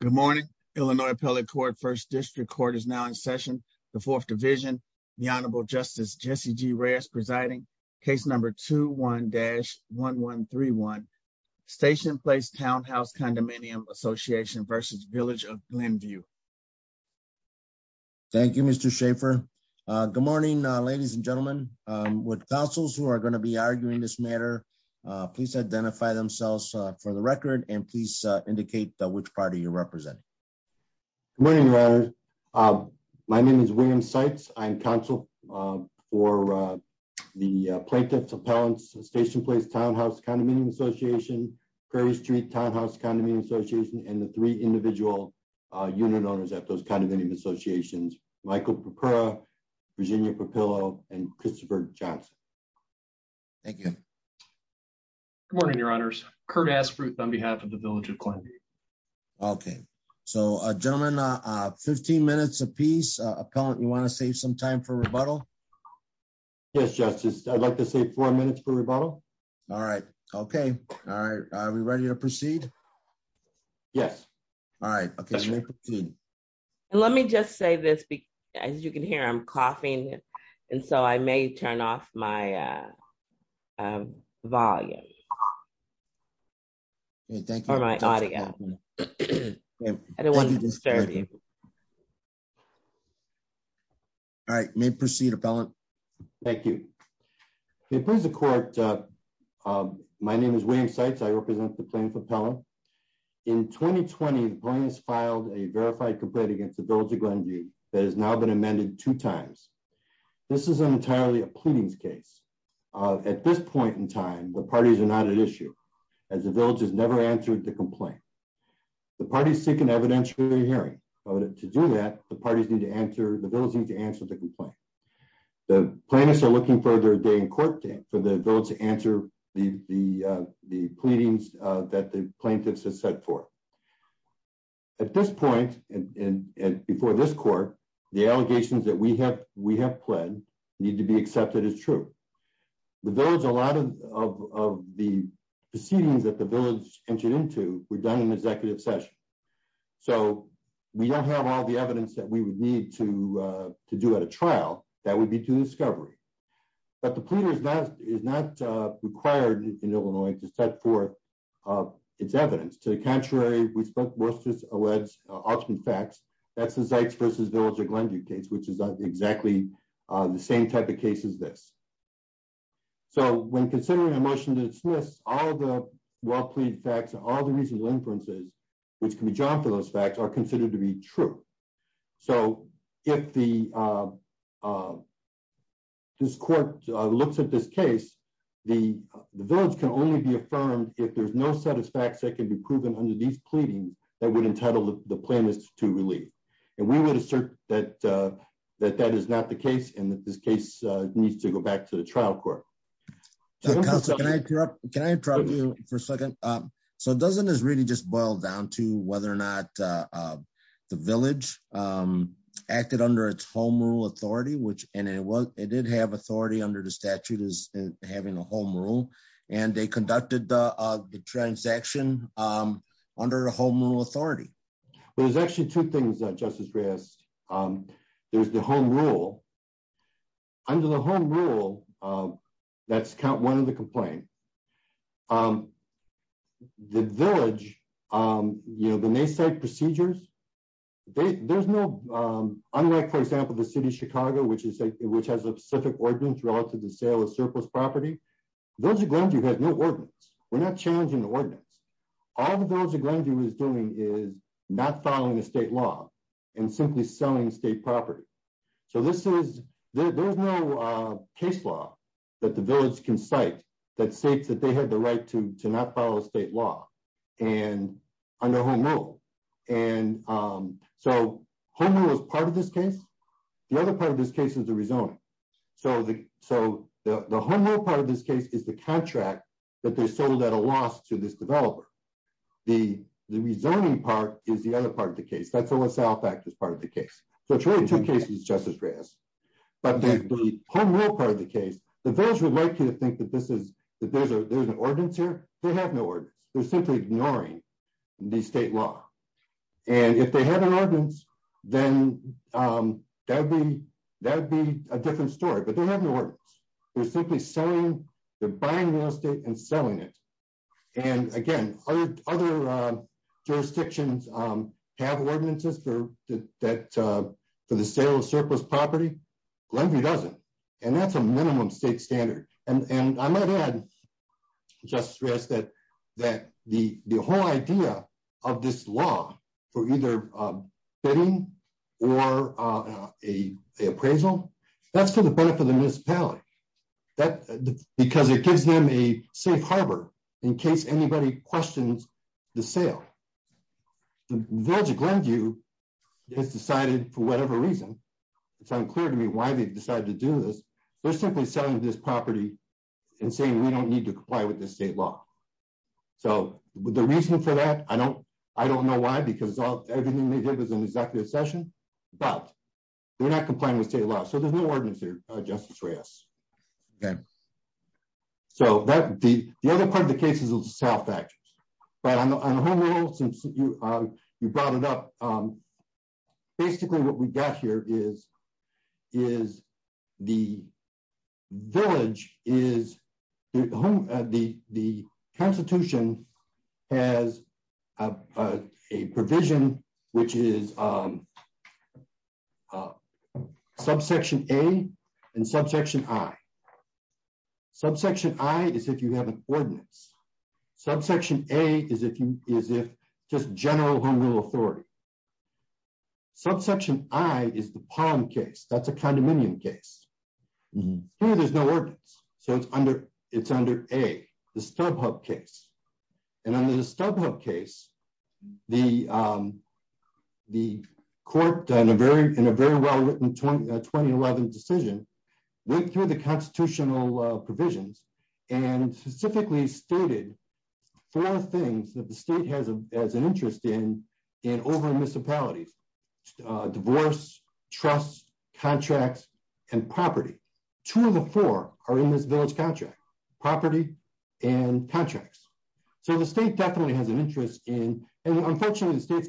Good morning, Illinois Appellate Court, 1st District Court is now in session. The 4th Division, the Honorable Justice Jesse G. Reyes presiding. Case number 21-1131 Station Place Townhouse Condominium Ass'n v. Village of Glenview. Thank you, Mr. Schaffer. Good morning, ladies and gentlemen. Would counsels who are going to be arguing this matter please identify themselves for the record and please indicate which party you're representing. Good morning, your honor. My name is William Seitz. I'm counsel for the Plaintiff's Appellants Station Place Townhouse Condominium Association, Prairie Street Townhouse Condominium Association, and the three individual unit owners at those condominium associations, Michael Papura, Virginia Papillo, and Christopher Johnson. Thank you. Good morning, your honors. Kurt Aspruth on behalf of the Village of Glenview. Okay. So, gentlemen, 15 minutes apiece. Appellant, you want to save some time for rebuttal? Yes, Justice. I'd like to save four minutes for rebuttal. All right. Okay. All right. Are we ready to proceed? Yes. All right. Okay, you may proceed. Let me just say this. As you can hear, I'm coughing. And so I may turn off my volume. Thank you. Or my audio. I don't want to disturb you. All right. You may proceed, Appellant. Thank you. It please the court. My name is William Seitz. I represent the Plaintiff Appellant. In 2020, the plaintiffs filed a verified complaint against the Village of Glenview that has now been amended two times. This is entirely a pleadings case. At this point in time, the parties are not at issue as the village has never answered the complaint. The parties seek an evidentiary hearing. To do that, the parties need to answer, the village needs to answer the complaint. The plaintiffs are looking for their day in court date for the village to answer the pleadings that the plaintiffs have set forth. At this point, and before this court, the allegations that we have pled need to be accepted as true. The village, a lot of the proceedings that the village entered into were done in executive session. So we don't have all the evidence that we would need to do at a trial. That would be to discovery. But the pleader is not required in Illinois to set forth its evidence. To the contrary, we spoke most of the facts. That's the Zikes versus Village of Glenview case, which is exactly the same type of case as this. So when considering a motion to dismiss, all the well-plead facts, all the reasonable inferences, which can be drawn from those facts, are considered to be true. So if this court looks at this case, the village can only be affirmed if there's no set of facts that can be proven under these pleadings that would entitle the plaintiffs to relieve. And we would assert that that is not the case and that this case needs to go back to the trial court. Counsel, can I interrupt you for a second? So doesn't this really just boil down to whether or not the village acted under its home rule authority, and it did have authority under the statute, as having a home rule, and they conducted the transaction under the home rule authority? There's actually two things, Justice Reyes. There's the home rule. Under the home rule, that's count one of the complaint. The village, you know, the naysay procedures, there's no... Unlike, for example, the city of Chicago, which has a specific ordinance relative to sale of surplus property, the village of Glenview has no ordinance. We're not challenging the ordinance. All the village of Glenview is doing is not following the state law and simply selling state property. So this is... There's no case law that the village can cite that states that they had the right to not follow state law under home rule. And so home rule is part of this case. The other part of this case is the rezoning. So the home rule part of this case is the contract that they sold at a loss to this developer. The rezoning part is the other part of the case. That's the LaSalle factors part of the case. So it's really two cases, Justice Reyes. But the home rule part of the case, the village would like you to think that there's an ordinance here. They're simply ignoring the state law. And if they had an ordinance, then that'd be a different story. But they have no ordinance. They're simply selling... They're buying real estate and selling it. And again, other jurisdictions have ordinances for the sale of surplus property. Glenview doesn't. And that's a minimum state standard. And I might add, Justice Reyes, that the whole idea of this law for either bidding or a appraisal, that's for the benefit of the municipality. Because it gives them a safe harbor in case anybody questions the sale. The village of Glenview has decided, for whatever reason, it's unclear to me why they've decided to do this. They're simply selling this property and saying we don't need to comply with the state law. So the reason for that, I don't know why, because everything they did was an executive session. But they're not complying with state law. So there's no ordinance here, Justice Reyes. Okay. So the other part of the case is the sale of factors. But on the whole, since you brought it up, basically what we've got here is the village is... The Constitution has a provision which is subsection A and subsection I. Subsection I is if you have an ordinance. Subsection A is if just general home rule authority. Subsection I is the Palm case. That's a condominium case. Here there's no ordinance. So it's under A, the Stubhub case. And under the Stubhub case, the court, in a very well-written 2011 decision, went through the constitutional provisions and specifically stated four things that the state has an interest in over in municipalities. Divorce, trust, contracts, and property. Two of the four are in this village contract, property and contracts. So the state definitely has an interest in... And unfortunately, the state's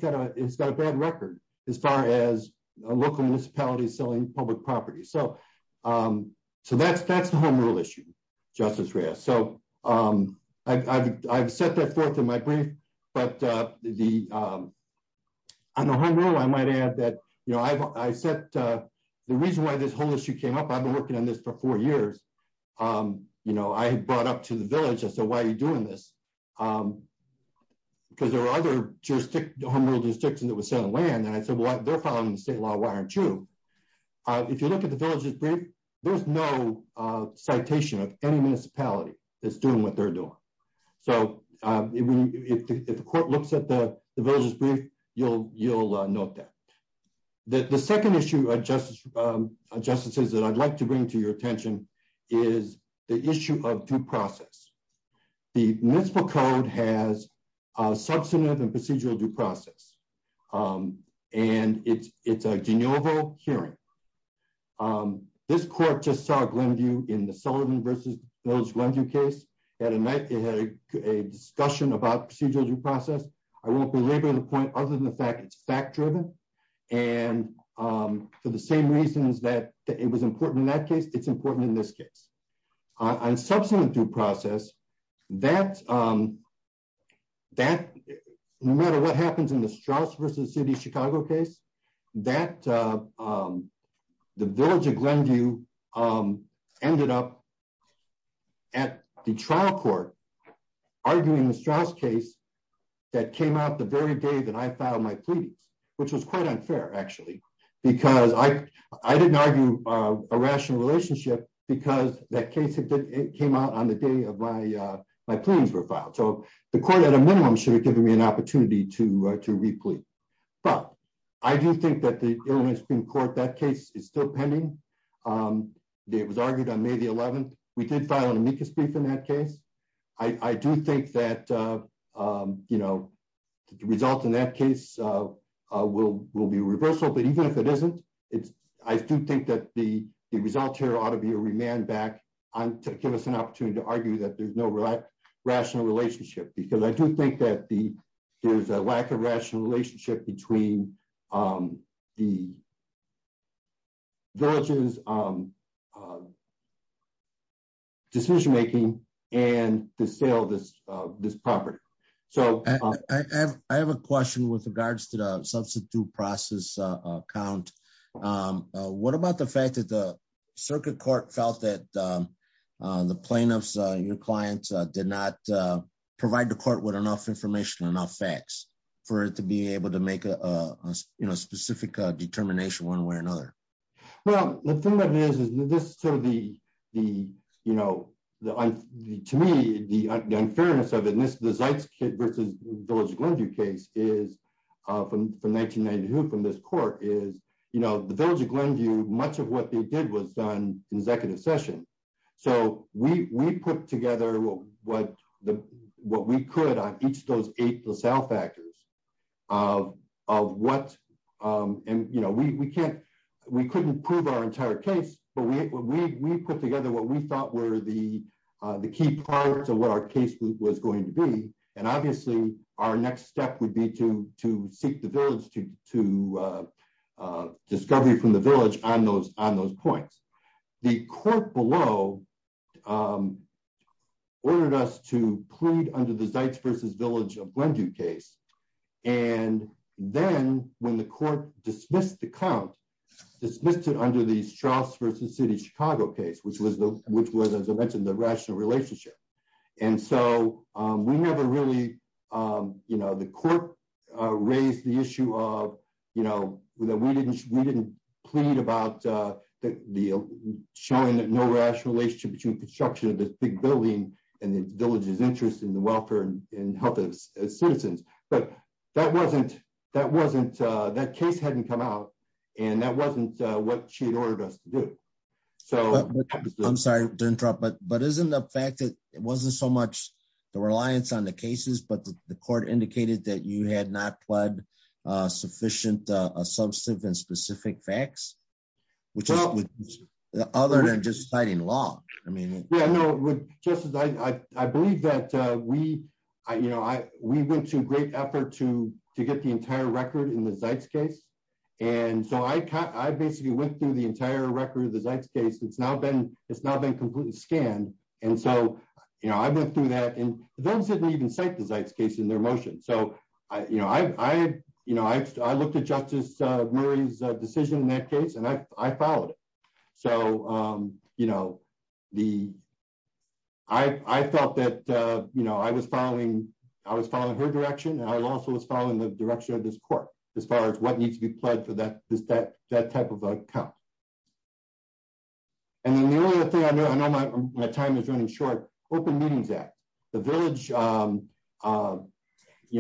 got a bad record as far as local municipalities selling public property. So that's the home rule issue, Justice Reyes. So I've set that forth in my brief, but on the home rule, I might add that... The reason why this whole issue came up, I've been working on this for four years. I brought up to the village. I said, why are you doing this? Because there are other home rule jurisdictions that were selling land. And I said, well, they're following the state law. Why aren't you? If you look at the village's brief, there's no citation of any municipality that's doing what they're doing. So if the court looks at the village's brief, you'll note that. The second issue, Justices, that I'd like to bring to your attention is the issue of due process. The Municipal Code has a substantive and procedural due process. And it's a de novo hearing. This court just saw Glenview in the Sullivan versus Village Glenview case. It had a discussion about procedural due process. I won't belabor the point other than the fact that it's fact-driven. And for the same reasons that it was important in that case, it's important in this case. On substantive due process, no matter what happens in the Straus versus City of Chicago case, the Village of Glenview ended up at the trial court arguing the Straus case that came out the very day that I filed my pleadings, which was quite unfair, actually, because I didn't argue a rational relationship because that case came out on the day of my pleadings were filed. So the court at a minimum should have given me an opportunity to replete. But I do think that the Illinois Supreme Court, that case is still pending. It was argued on May the 11th. We did file an amicus brief in that case. I do think that the result in that case will be reversal, but even if it isn't, I do think that the result here ought to be a remand back to give us an opportunity to argue that there's no rational relationship because I do think that there's a lack of rational relationship between the village's decision-making and the sale of this property. So- I have a question with regards to the substitute process count. What about the fact that the circuit court felt that the plaintiffs, your clients, did not provide the court with enough information, enough facts for it to be able to make a specific determination one way or another? Well, the thing that it is, is this sort of the, you know, to me, the unfairness of it, and this is the Zeitz versus Village of Glenview case is from 1992 from this court is, you know, the Village of Glenview, much of what they did was done in executive session. So we put together what we could on each of those eight sale factors of what, and, you know, we can't, we couldn't prove our entire case, but we put together what we thought were the key parts of what our case was going to be. And obviously our next step would be to seek the village to discovery from the village on those points. The court below ordered us to plead under the Zeitz versus Village of Glenview case. And then when the court dismissed the count, dismissed it under the Straus versus City of Chicago case, which was the, which was, as I mentioned, the rational relationship. And so we never really, you know, the court raised the issue of, you know, we didn't plead about the, showing that no rational relationship between construction of this big building and the village's interest in the welfare and health of its citizens. But that wasn't, that case hadn't come out and that wasn't what she had ordered us to do. So- I'm sorry to interrupt, but isn't the fact that it wasn't so much the reliance on the cases, but the court indicated that you had not pled sufficient substantive and specific facts, which is other than just citing law. I mean- We went to great effort to get the entire record in the Zeitz case. And so I basically went through the entire record of the Zeitz case. It's now been completely scanned. And so, you know, I went through that and they didn't even cite the Zeitz case in their motion. So, you know, I looked at Justice Murray's decision in that case and I followed it. So, you know, I felt that, you know, I was following her direction and I also was following the direction of this court as far as what needs to be pled for that type of account. And then the only other thing I know, I know my time is running short, Open Meetings Act. The village, you know,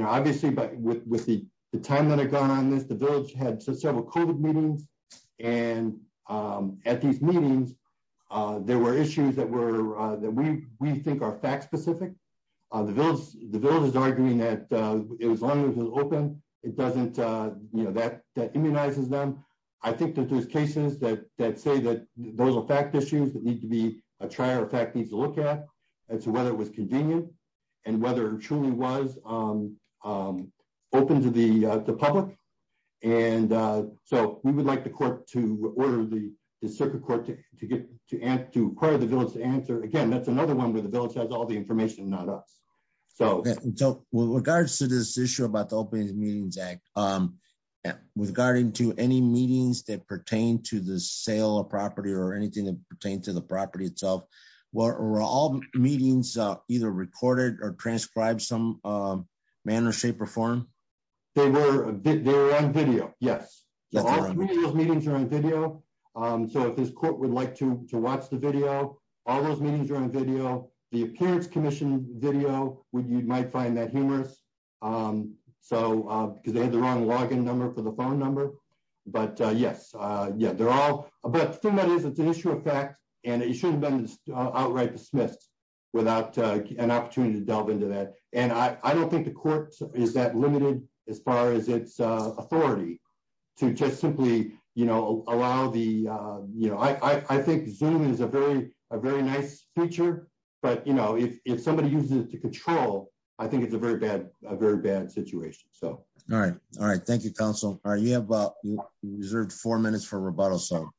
obviously, but with the time that had gone on this, the village had several COVID meetings and at these meetings, there were issues that we think are fact-specific. The village is arguing that as long as it's open, it doesn't, you know, that immunizes them. I think that there's cases that say that those are fact issues that need to be, a trier of fact needs to look at as to whether it was convenient and whether it truly was open to the public. And so we would like the court to order the circuit court to acquire the village to answer. Again, that's another one where the village has all the information, not us. So- So with regards to this issue about the Open Meetings Act, regarding to any meetings that pertain to the sale of property or anything that pertains to the property itself, were all meetings either recorded or transcribed some manner, shape or form? They were on video, yes. All three of those meetings are on video. So if this court would like to watch the video, all those meetings are on video. The Appearance Commission video, you might find that humorous. So, because they had the wrong login number for the phone number. But yes, yeah, they're all, but the thing that is, it's an issue of fact, and it shouldn't have been outright dismissed without an opportunity to delve into that. And I don't think the court is that limited as far as its authority to just simply, you know, allow the, you know, I think Zoom is a very nice feature, but you know, if somebody uses it to control, I think it's a very bad situation, so. All right, all right. Thank you, counsel. All right, you have about, you reserved four minutes for rebuttal, so.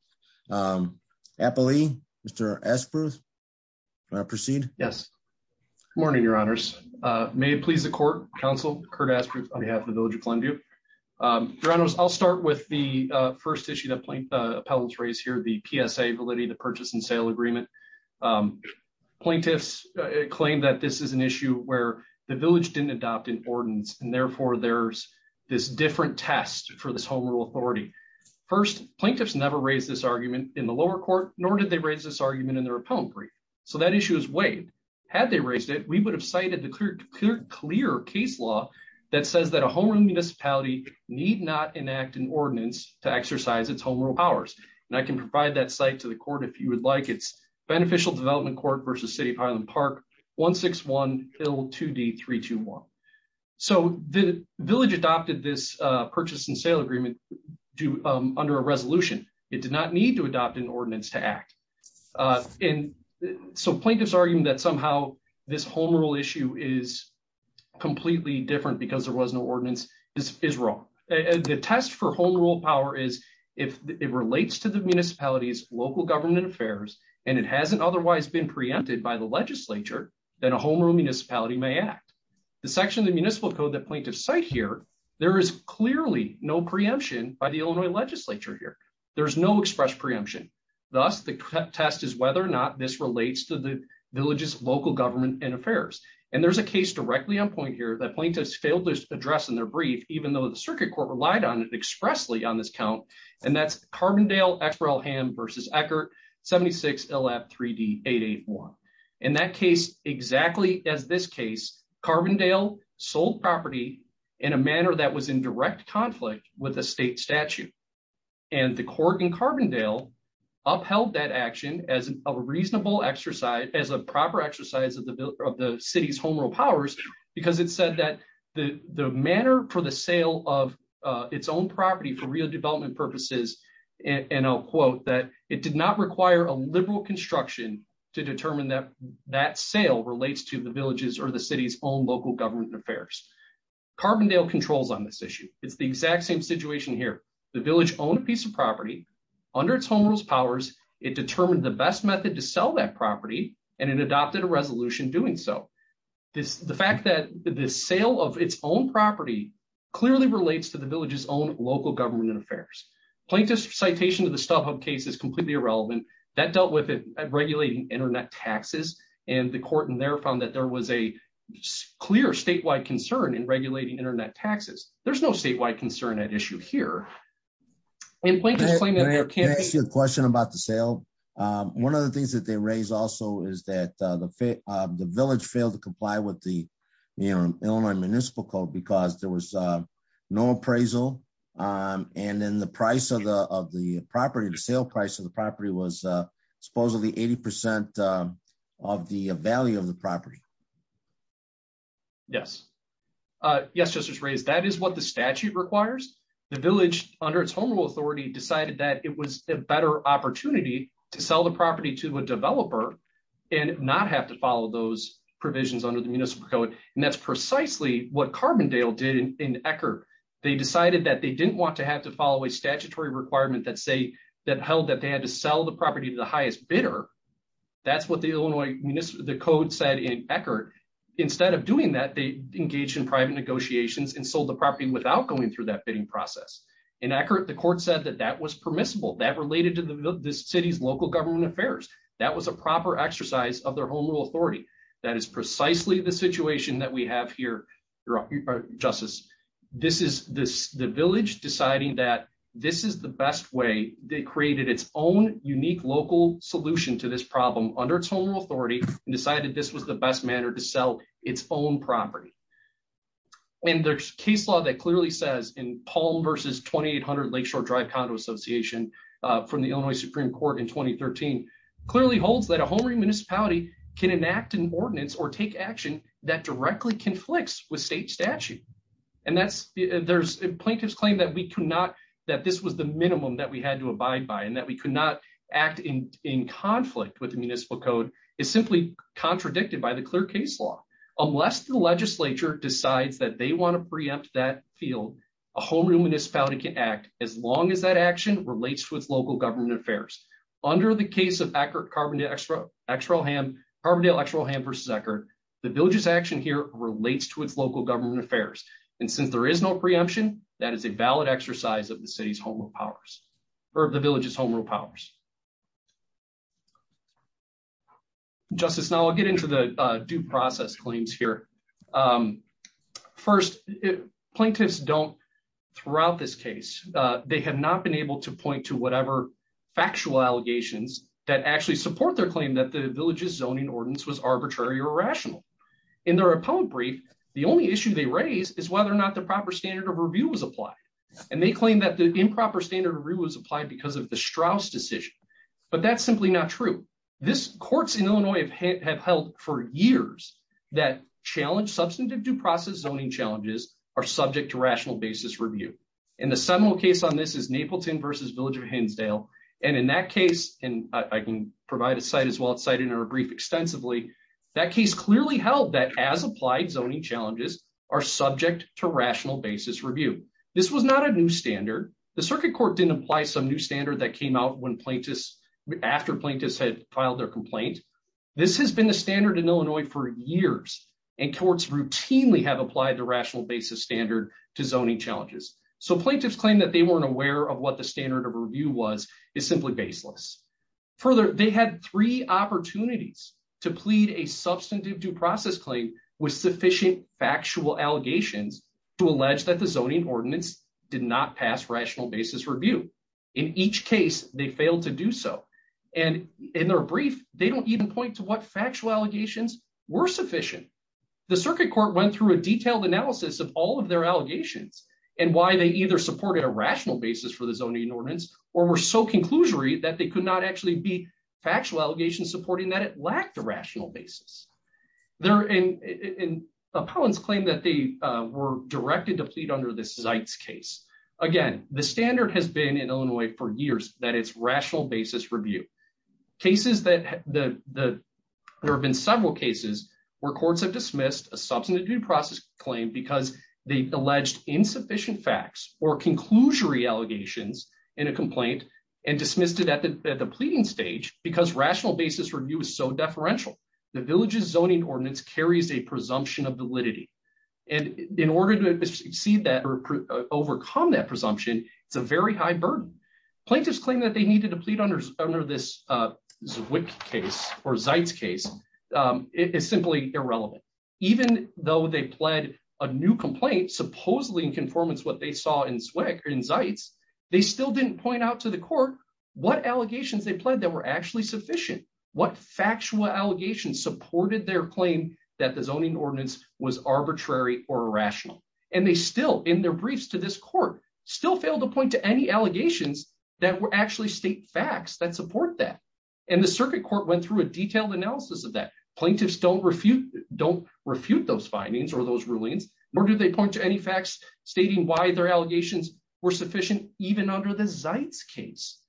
Appellee, Mr. Aspruth. Proceed? Yes. Good morning, your honors. May it please the court, counsel Kurt Aspruth on behalf of the Village of Klenview. Your honors, I'll start with the first issue that appellants raise here, the PSA validity of the purchase and sale agreement. Plaintiffs claim that this is an issue where the village didn't adopt an ordinance, and therefore there's this different test for this home rule authority. First, plaintiffs never raised this argument in the lower court, nor did they raise this argument in their appellant brief. So that issue is weighed. Had they raised it, we would have cited the clear case law that says that a home run municipality need not enact an ordinance to exercise its home rule powers. And I can provide that site to the court if you would like. It's Beneficial Development Court versus City of Highland Park, 161 Hill 2D321. So the village adopted this purchase and sale agreement under a resolution. It did not need to adopt an ordinance to act. And so plaintiffs argue that somehow this home rule issue is completely different because there was no ordinance is wrong. The test for home rule power is if it relates to the municipality's local government affairs and it hasn't otherwise been preempted by the legislature, then a home rule municipality may act. The section of the municipal code that plaintiffs cite here, there is clearly no preemption by the Illinois legislature here. There's no express preemption. Thus, the test is whether or not this relates to the village's local government and affairs. And there's a case directly on point here that plaintiffs failed to address in their brief, even though the circuit court relied on it expressly on this count. And that's Carbondale-Exper-El-Ham versus Eckert 76 LF 3D881. In that case, exactly as this case, Carbondale sold property in a manner that was in direct conflict with the state statute. And the court in Carbondale upheld that action as a reasonable exercise, as a proper exercise of the city's home rule powers because it said that the manner for the sale of its own property for real development purposes, and I'll quote, that it did not require a liberal construction to determine that that sale relates to the village's or the city's own local government and affairs. Carbondale controls on this issue. It's the exact same situation here. The village owned a piece of property under its home rules powers. It determined the best method to sell that property and it adopted a resolution doing so. The fact that the sale of its own property clearly relates to the village's own local government and affairs. Plaintiff's citation of the StubHub case is completely irrelevant. That dealt with it at regulating internet taxes and the court in there found that there was a clear statewide concern in regulating internet taxes. There's no statewide concern at issue here. And Plaintiff's claim- Can I ask you a question about the sale? One of the things that they raised also is that the village failed to comply with the Illinois Municipal Code because there was no appraisal. And then the price of the property, the sale price of the property was supposedly 80% of the value of the property. Yes. Yes, Justice Reyes, that is what the statute requires. The village under its home rule authority decided that it was a better opportunity to sell the property to a developer and not have to follow those provisions under the Municipal Code. And that's precisely what Carbondale did in Eckerd. They decided that they didn't want to have to follow a statutory requirement that say that held that they had to sell the property to the highest bidder. That's what the Illinois Municipal Code said in Eckerd. Instead of doing that, they engaged in private negotiations and sold the property without going through that bidding process. In Eckerd, the court said that that was permissible. That related to the city's local government affairs. That was a proper exercise of their home rule authority. That is precisely the situation that we have here, Justice. This is the village deciding that this is the best way they created its own unique local solution to this problem under its home rule authority and decided this was the best manner to sell its own property. And there's case law that clearly says in Palm versus 2800 Lakeshore Drive Condo Association from the Illinois Supreme Court in 2013, clearly holds that a home remunicipality can enact an ordinance or take action that directly conflicts with state statute. And plaintiff's claim that this was the minimum that we had to abide by and that we could not act in conflict with the municipal code is simply contradicted by the clear case law. Unless the legislature decides that they want to preempt that field, a home remunicipality can act as long as that action relates to its local government affairs. Under the case of Carbondale-Eckerd versus Eckerd, the village's action here relates to its local government affairs. And since there is no preemption, that is a valid exercise of the city's home rule powers or the village's home rule powers. Justice, now I'll get into the due process claims here. First, plaintiffs don't throughout this case, they have not been able to point to whatever factual allegations that actually support their claim that the village's zoning ordinance was arbitrary or rational. In their opponent brief, the only issue they raise is whether or not the proper standard of review was applied. And they claim that the improper standard review was applied because of the Strauss decision, but that's simply not true. This courts in Illinois have held for years that challenge substantive due process zoning challenges are subject to rational basis review. And the seminal case on this is Napleton versus Village of Hinsdale. And in that case, and I can provide a site as well, it's cited in our brief extensively, that case clearly held that as applied zoning challenges are subject to rational basis review. This was not a new standard. The circuit court didn't apply some new standard that came out when plaintiffs, after plaintiffs had filed their complaint. This has been the standard in Illinois for years and courts routinely have applied the rational basis standard to zoning challenges. So plaintiffs claim that they weren't aware of what the standard of review was, is simply baseless. Further, they had three opportunities to plead a substantive due process claim with sufficient factual allegations to allege that the zoning ordinance did not pass rational basis review. In each case, they failed to do so. And in their brief, they don't even point to what factual allegations were sufficient. The circuit court went through a detailed analysis of all of their allegations and why they either supported a rational basis for the zoning ordinance or were so conclusory that they could not actually be factual allegations supporting that it lacked a rational basis. They're in a pound's claim that they were directed to plead under this site's case. Again, the standard has been in Illinois for years that it's rational basis review. There have been several cases where courts have dismissed a substantive due process claim because they alleged insufficient facts or conclusory allegations in a complaint and dismissed it at the pleading stage because rational basis review is so deferential. The village's zoning ordinance carries a presumption of validity. And in order to exceed that or overcome that presumption, it's a very high burden. Plaintiffs claim that they needed to plead under this Zwick case or Zite's case. It is simply irrelevant. Even though they pled a new complaint, supposedly in conformance what they saw in Zwick or in Zite's, they still didn't point out to the court what allegations they pled that were actually sufficient, what factual allegations supported their claim that the zoning ordinance was arbitrary or irrational. And they still, in their briefs to this court, still failed to point to any allegations that were actually state facts that support that. And the circuit court went through a detailed analysis of that. Plaintiffs don't refute those findings or those rulings, nor do they point to any facts stating why their allegations were sufficient even under the Zite's case.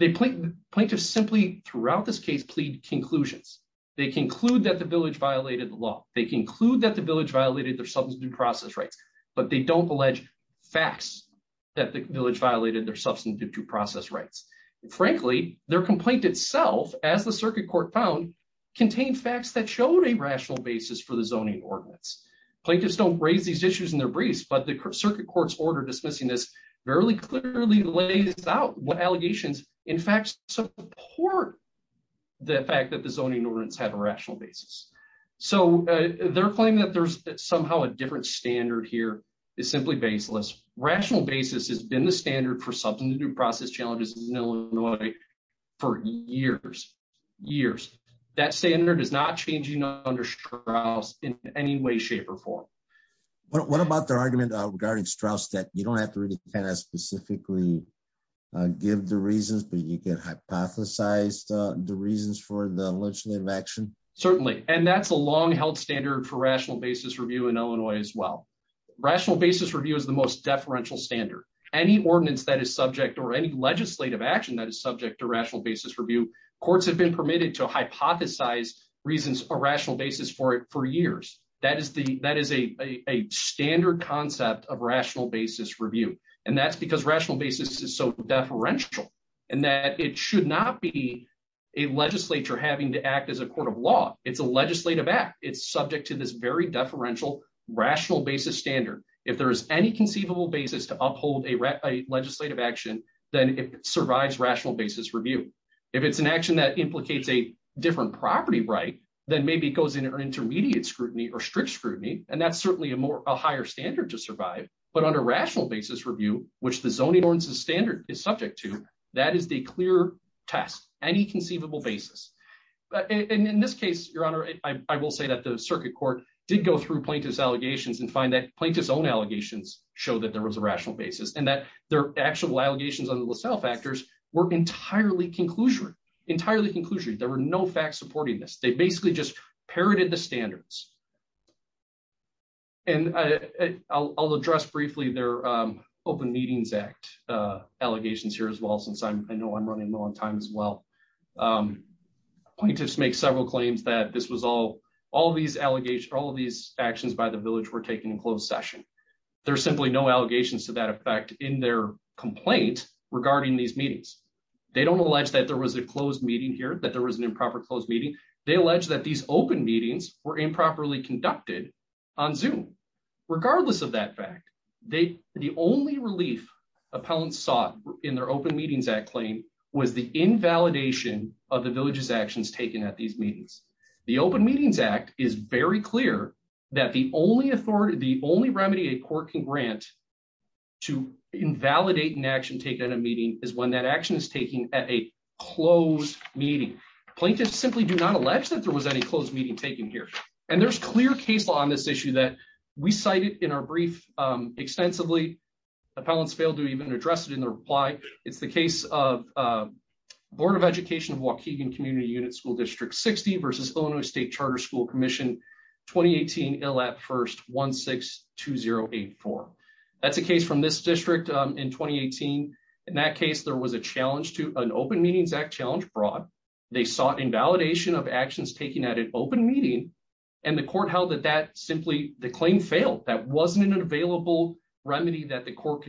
Plaintiffs simply, throughout this case, plead conclusions. They conclude that the village violated the law. They conclude that the village violated their substantive due process rights. But they don't allege facts that the village violated their substantive due process rights. Frankly, their complaint itself, as the circuit court found, contained facts that showed a rational basis for the zoning ordinance. Plaintiffs don't raise these issues in their briefs, but the circuit court's order dismissing this very clearly lays out what allegations, in fact, support the fact that the zoning ordinance had a rational basis. So their claim that there's somehow a different standard here is simply baseless. Rational basis has been the standard for substantive due process challenges in Illinois for years, years. That standard is not changing under Strauss in any way, shape, or form. What about their argument regarding Strauss that you don't have to really kind of specifically give the reasons, but you can hypothesize the reasons for the legislative action? Certainly, and that's a long-held standard for rational basis review in Illinois as well. Rational basis review is the most deferential standard. Any ordinance that is subject or any legislative action that is subject to rational basis review, courts have been permitted to hypothesize reasons or rational basis for it for years. That is a standard concept of rational basis review, and that's because rational basis is so deferential in that it should not be a legislature having to act as a court of law. It's a legislative act. It's subject to this very deferential rational basis standard. If there is any conceivable basis to uphold a legislative action, then it survives rational basis review. If it's an action that implicates a different property right, then maybe it goes into an intermediate scrutiny or strict scrutiny, and that's certainly a higher standard to survive. But under rational basis review, which the zoning ordinances standard is subject to, that is the clear test, any conceivable basis. And in this case, Your Honor, I will say that the circuit court did go through plaintiff's allegations and find that plaintiff's own allegations show that there was a rational basis, and that their actual allegations on the LaSalle factors were entirely conclusionary. Entirely conclusionary. There were no facts supporting this. They basically just parroted the standards. And I'll address briefly their Open Meetings Act allegations here as well, since I know I'm running low on time as well. Plaintiffs make several claims that all of these actions by the village were taken in closed session. There are simply no allegations to that effect in their complaint regarding these meetings. They don't allege that there was a closed meeting here, that there was an improper closed meeting. They allege that these open meetings were improperly conducted on Zoom. Regardless of that fact, the only relief appellants sought in their Open Meetings Act claim was the invalidation of the village's actions taken at these meetings. The Open Meetings Act is very clear that the only remedy a court can grant to invalidate an action taken at a meeting is when that action is taken at a closed meeting. Plaintiffs simply do not allege that there was any closed meeting taken here. And there's clear case law on this issue that we cited in our brief extensively. Appellants failed to even address it in their reply. It's the case of Board of Education of Waukegan Community Unit School District 60 versus Illinois State Charter School Commission 2018 ILAP First 162084. That's a case from this district in 2018. In that case, there was a challenge to an Open Meetings Act challenge brought. They sought invalidation of actions taken at an open meeting. And the court held that that simply, the claim failed. That wasn't an available remedy that the court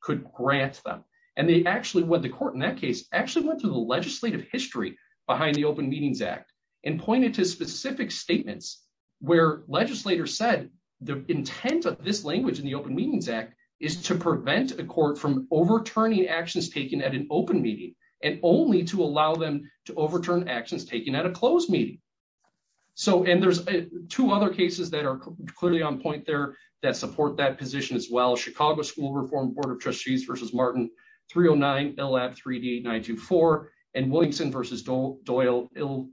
could grant them. And they actually, what the court in that case actually went through the legislative history behind the Open Meetings Act and pointed to specific statements where legislators said the intent of this language in the Open Meetings Act is to prevent a court from overturning actions taken at an open meeting and only to allow them to overturn actions taken at a closed meeting. And there's two other cases that are clearly on point there that support that position as well. Chicago School Reform Board of Trustees versus Martin 309 ILAP 3D 924 and Williamson versus Doyle 112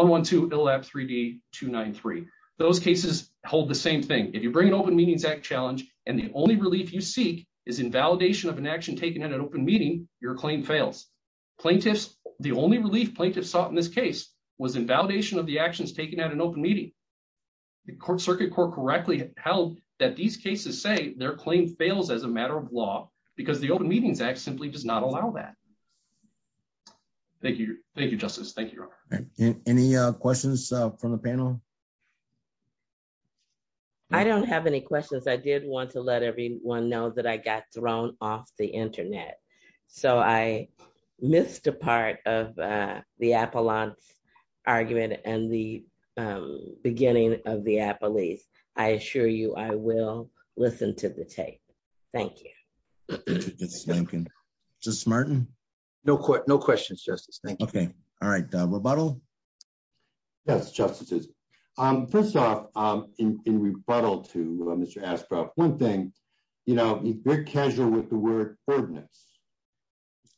ILAP 3D 293. Those cases hold the same thing. If you bring an Open Meetings Act challenge and the only relief you seek is invalidation of an action taken at an open meeting, your claim fails. Plaintiffs, the only relief plaintiffs sought in this case was invalidation of the actions taken at an open meeting. The Circuit Court correctly held that these cases say their claim fails as a matter of law because the Open Meetings Act simply does not allow that. Thank you. Thank you, Justice. Thank you, Your Honor. Any questions from the panel? I don't have any questions. I did want to let everyone know that I got thrown off the internet. So I missed a part of the appellant argument and the beginning of the appellate. I assure you I will listen to the tape. Thank you. Thank you. Justice Martin? No questions, Justice. Thank you. All right. Rebuttal? Yes, Justices. First off, in rebuttal to Mr. Ashcroft, one thing. You're casual with the word ordinance.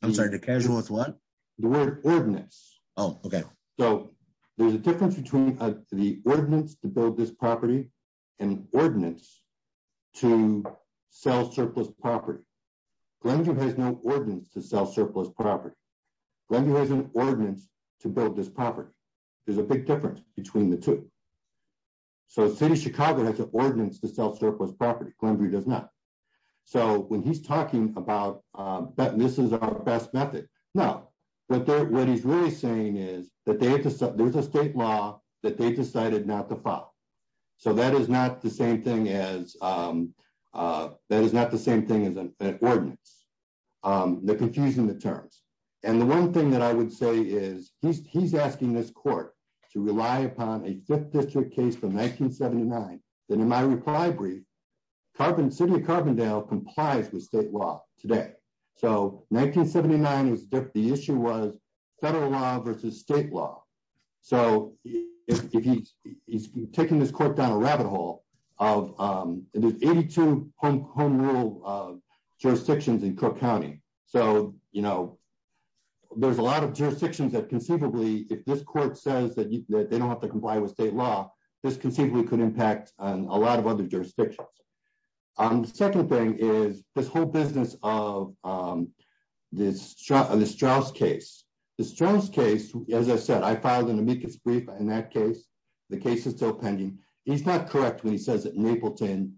I'm sorry. The casual with what? The word ordinance. Oh, OK. So there's a difference between the ordinance to build this property and ordinance to sell surplus property. Glenview has no ordinance to sell surplus property. Glenview has an ordinance to build this property. There's a big difference between the two. So the city of Chicago has an ordinance to sell surplus property. Glenview does not. So when he's talking about this is our best method, no. What he's really saying is that there's a state law that they decided not to follow. So that is not the same thing as an ordinance. They're confusing the terms. And the one thing that I would say is he's asking this court to rely upon a fifth district case from 1979. And in my reply brief, the city of Carbondale complies with state law today. So 1979, the issue was federal law versus state law. So he's taking this court down a rabbit hole. There's 82 home rule jurisdictions in Cook County. So there's a lot of jurisdictions that conceivably, if this court says that they don't have to comply with state law, this conceivably could impact a lot of other jurisdictions. The second thing is this whole business of the Strauss case. The Strauss case, as I said, I filed an amicus brief in that case. The case is still pending. He's not correct when he says that Napleton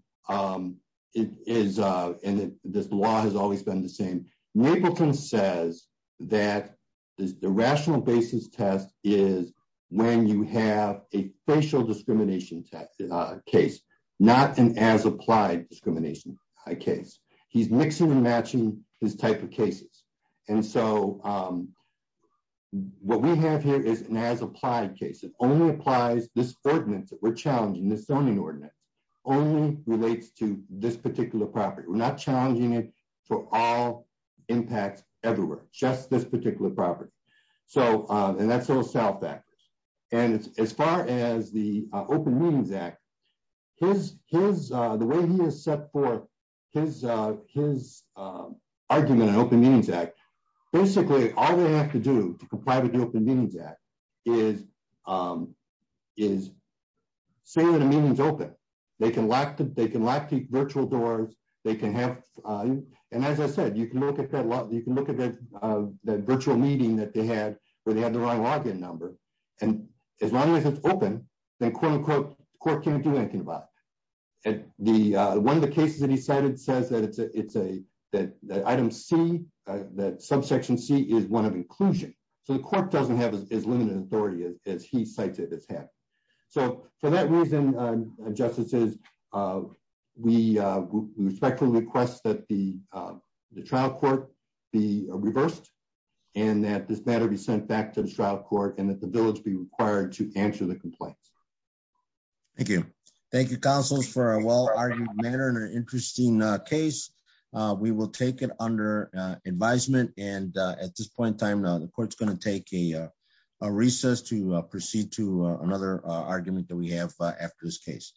is, and this law has always been the same. Napleton says that the rational basis test is when you have a facial discrimination case, not an as-applied discrimination case. He's mixing and matching his type of cases. And so what we have here is an as-applied case. It only applies this ordinance that we're challenging, this zoning ordinance, only relates to this particular property. We're not challenging it for all impacts everywhere, just this particular property. And that's a little self-factors. And as far as the Open Meetings Act, the way he has set forth his argument in Open Meetings Act, basically all they have to do to comply with the Open Meetings Act is say that a meeting's open. They can lock the virtual doors. And as I said, you can look at that virtual meeting that they had where they had the right log-in number. And as long as it's open, then quote, unquote, the court can't do anything about it. One of the cases that he cited says that item C, that subsection C, is one of inclusion. So the court doesn't have as limited authority as he cites it as having. So for that reason, justices, we respectfully request that the trial court be reversed and that this matter be sent back to the trial court and that the bill be required to answer the complaint. Thank you. Thank you, counsels, for a well-argued matter and an interesting case. We will take it under advisement. And at this point in time, the court's going to take a recess to proceed to another argument that we have after this case.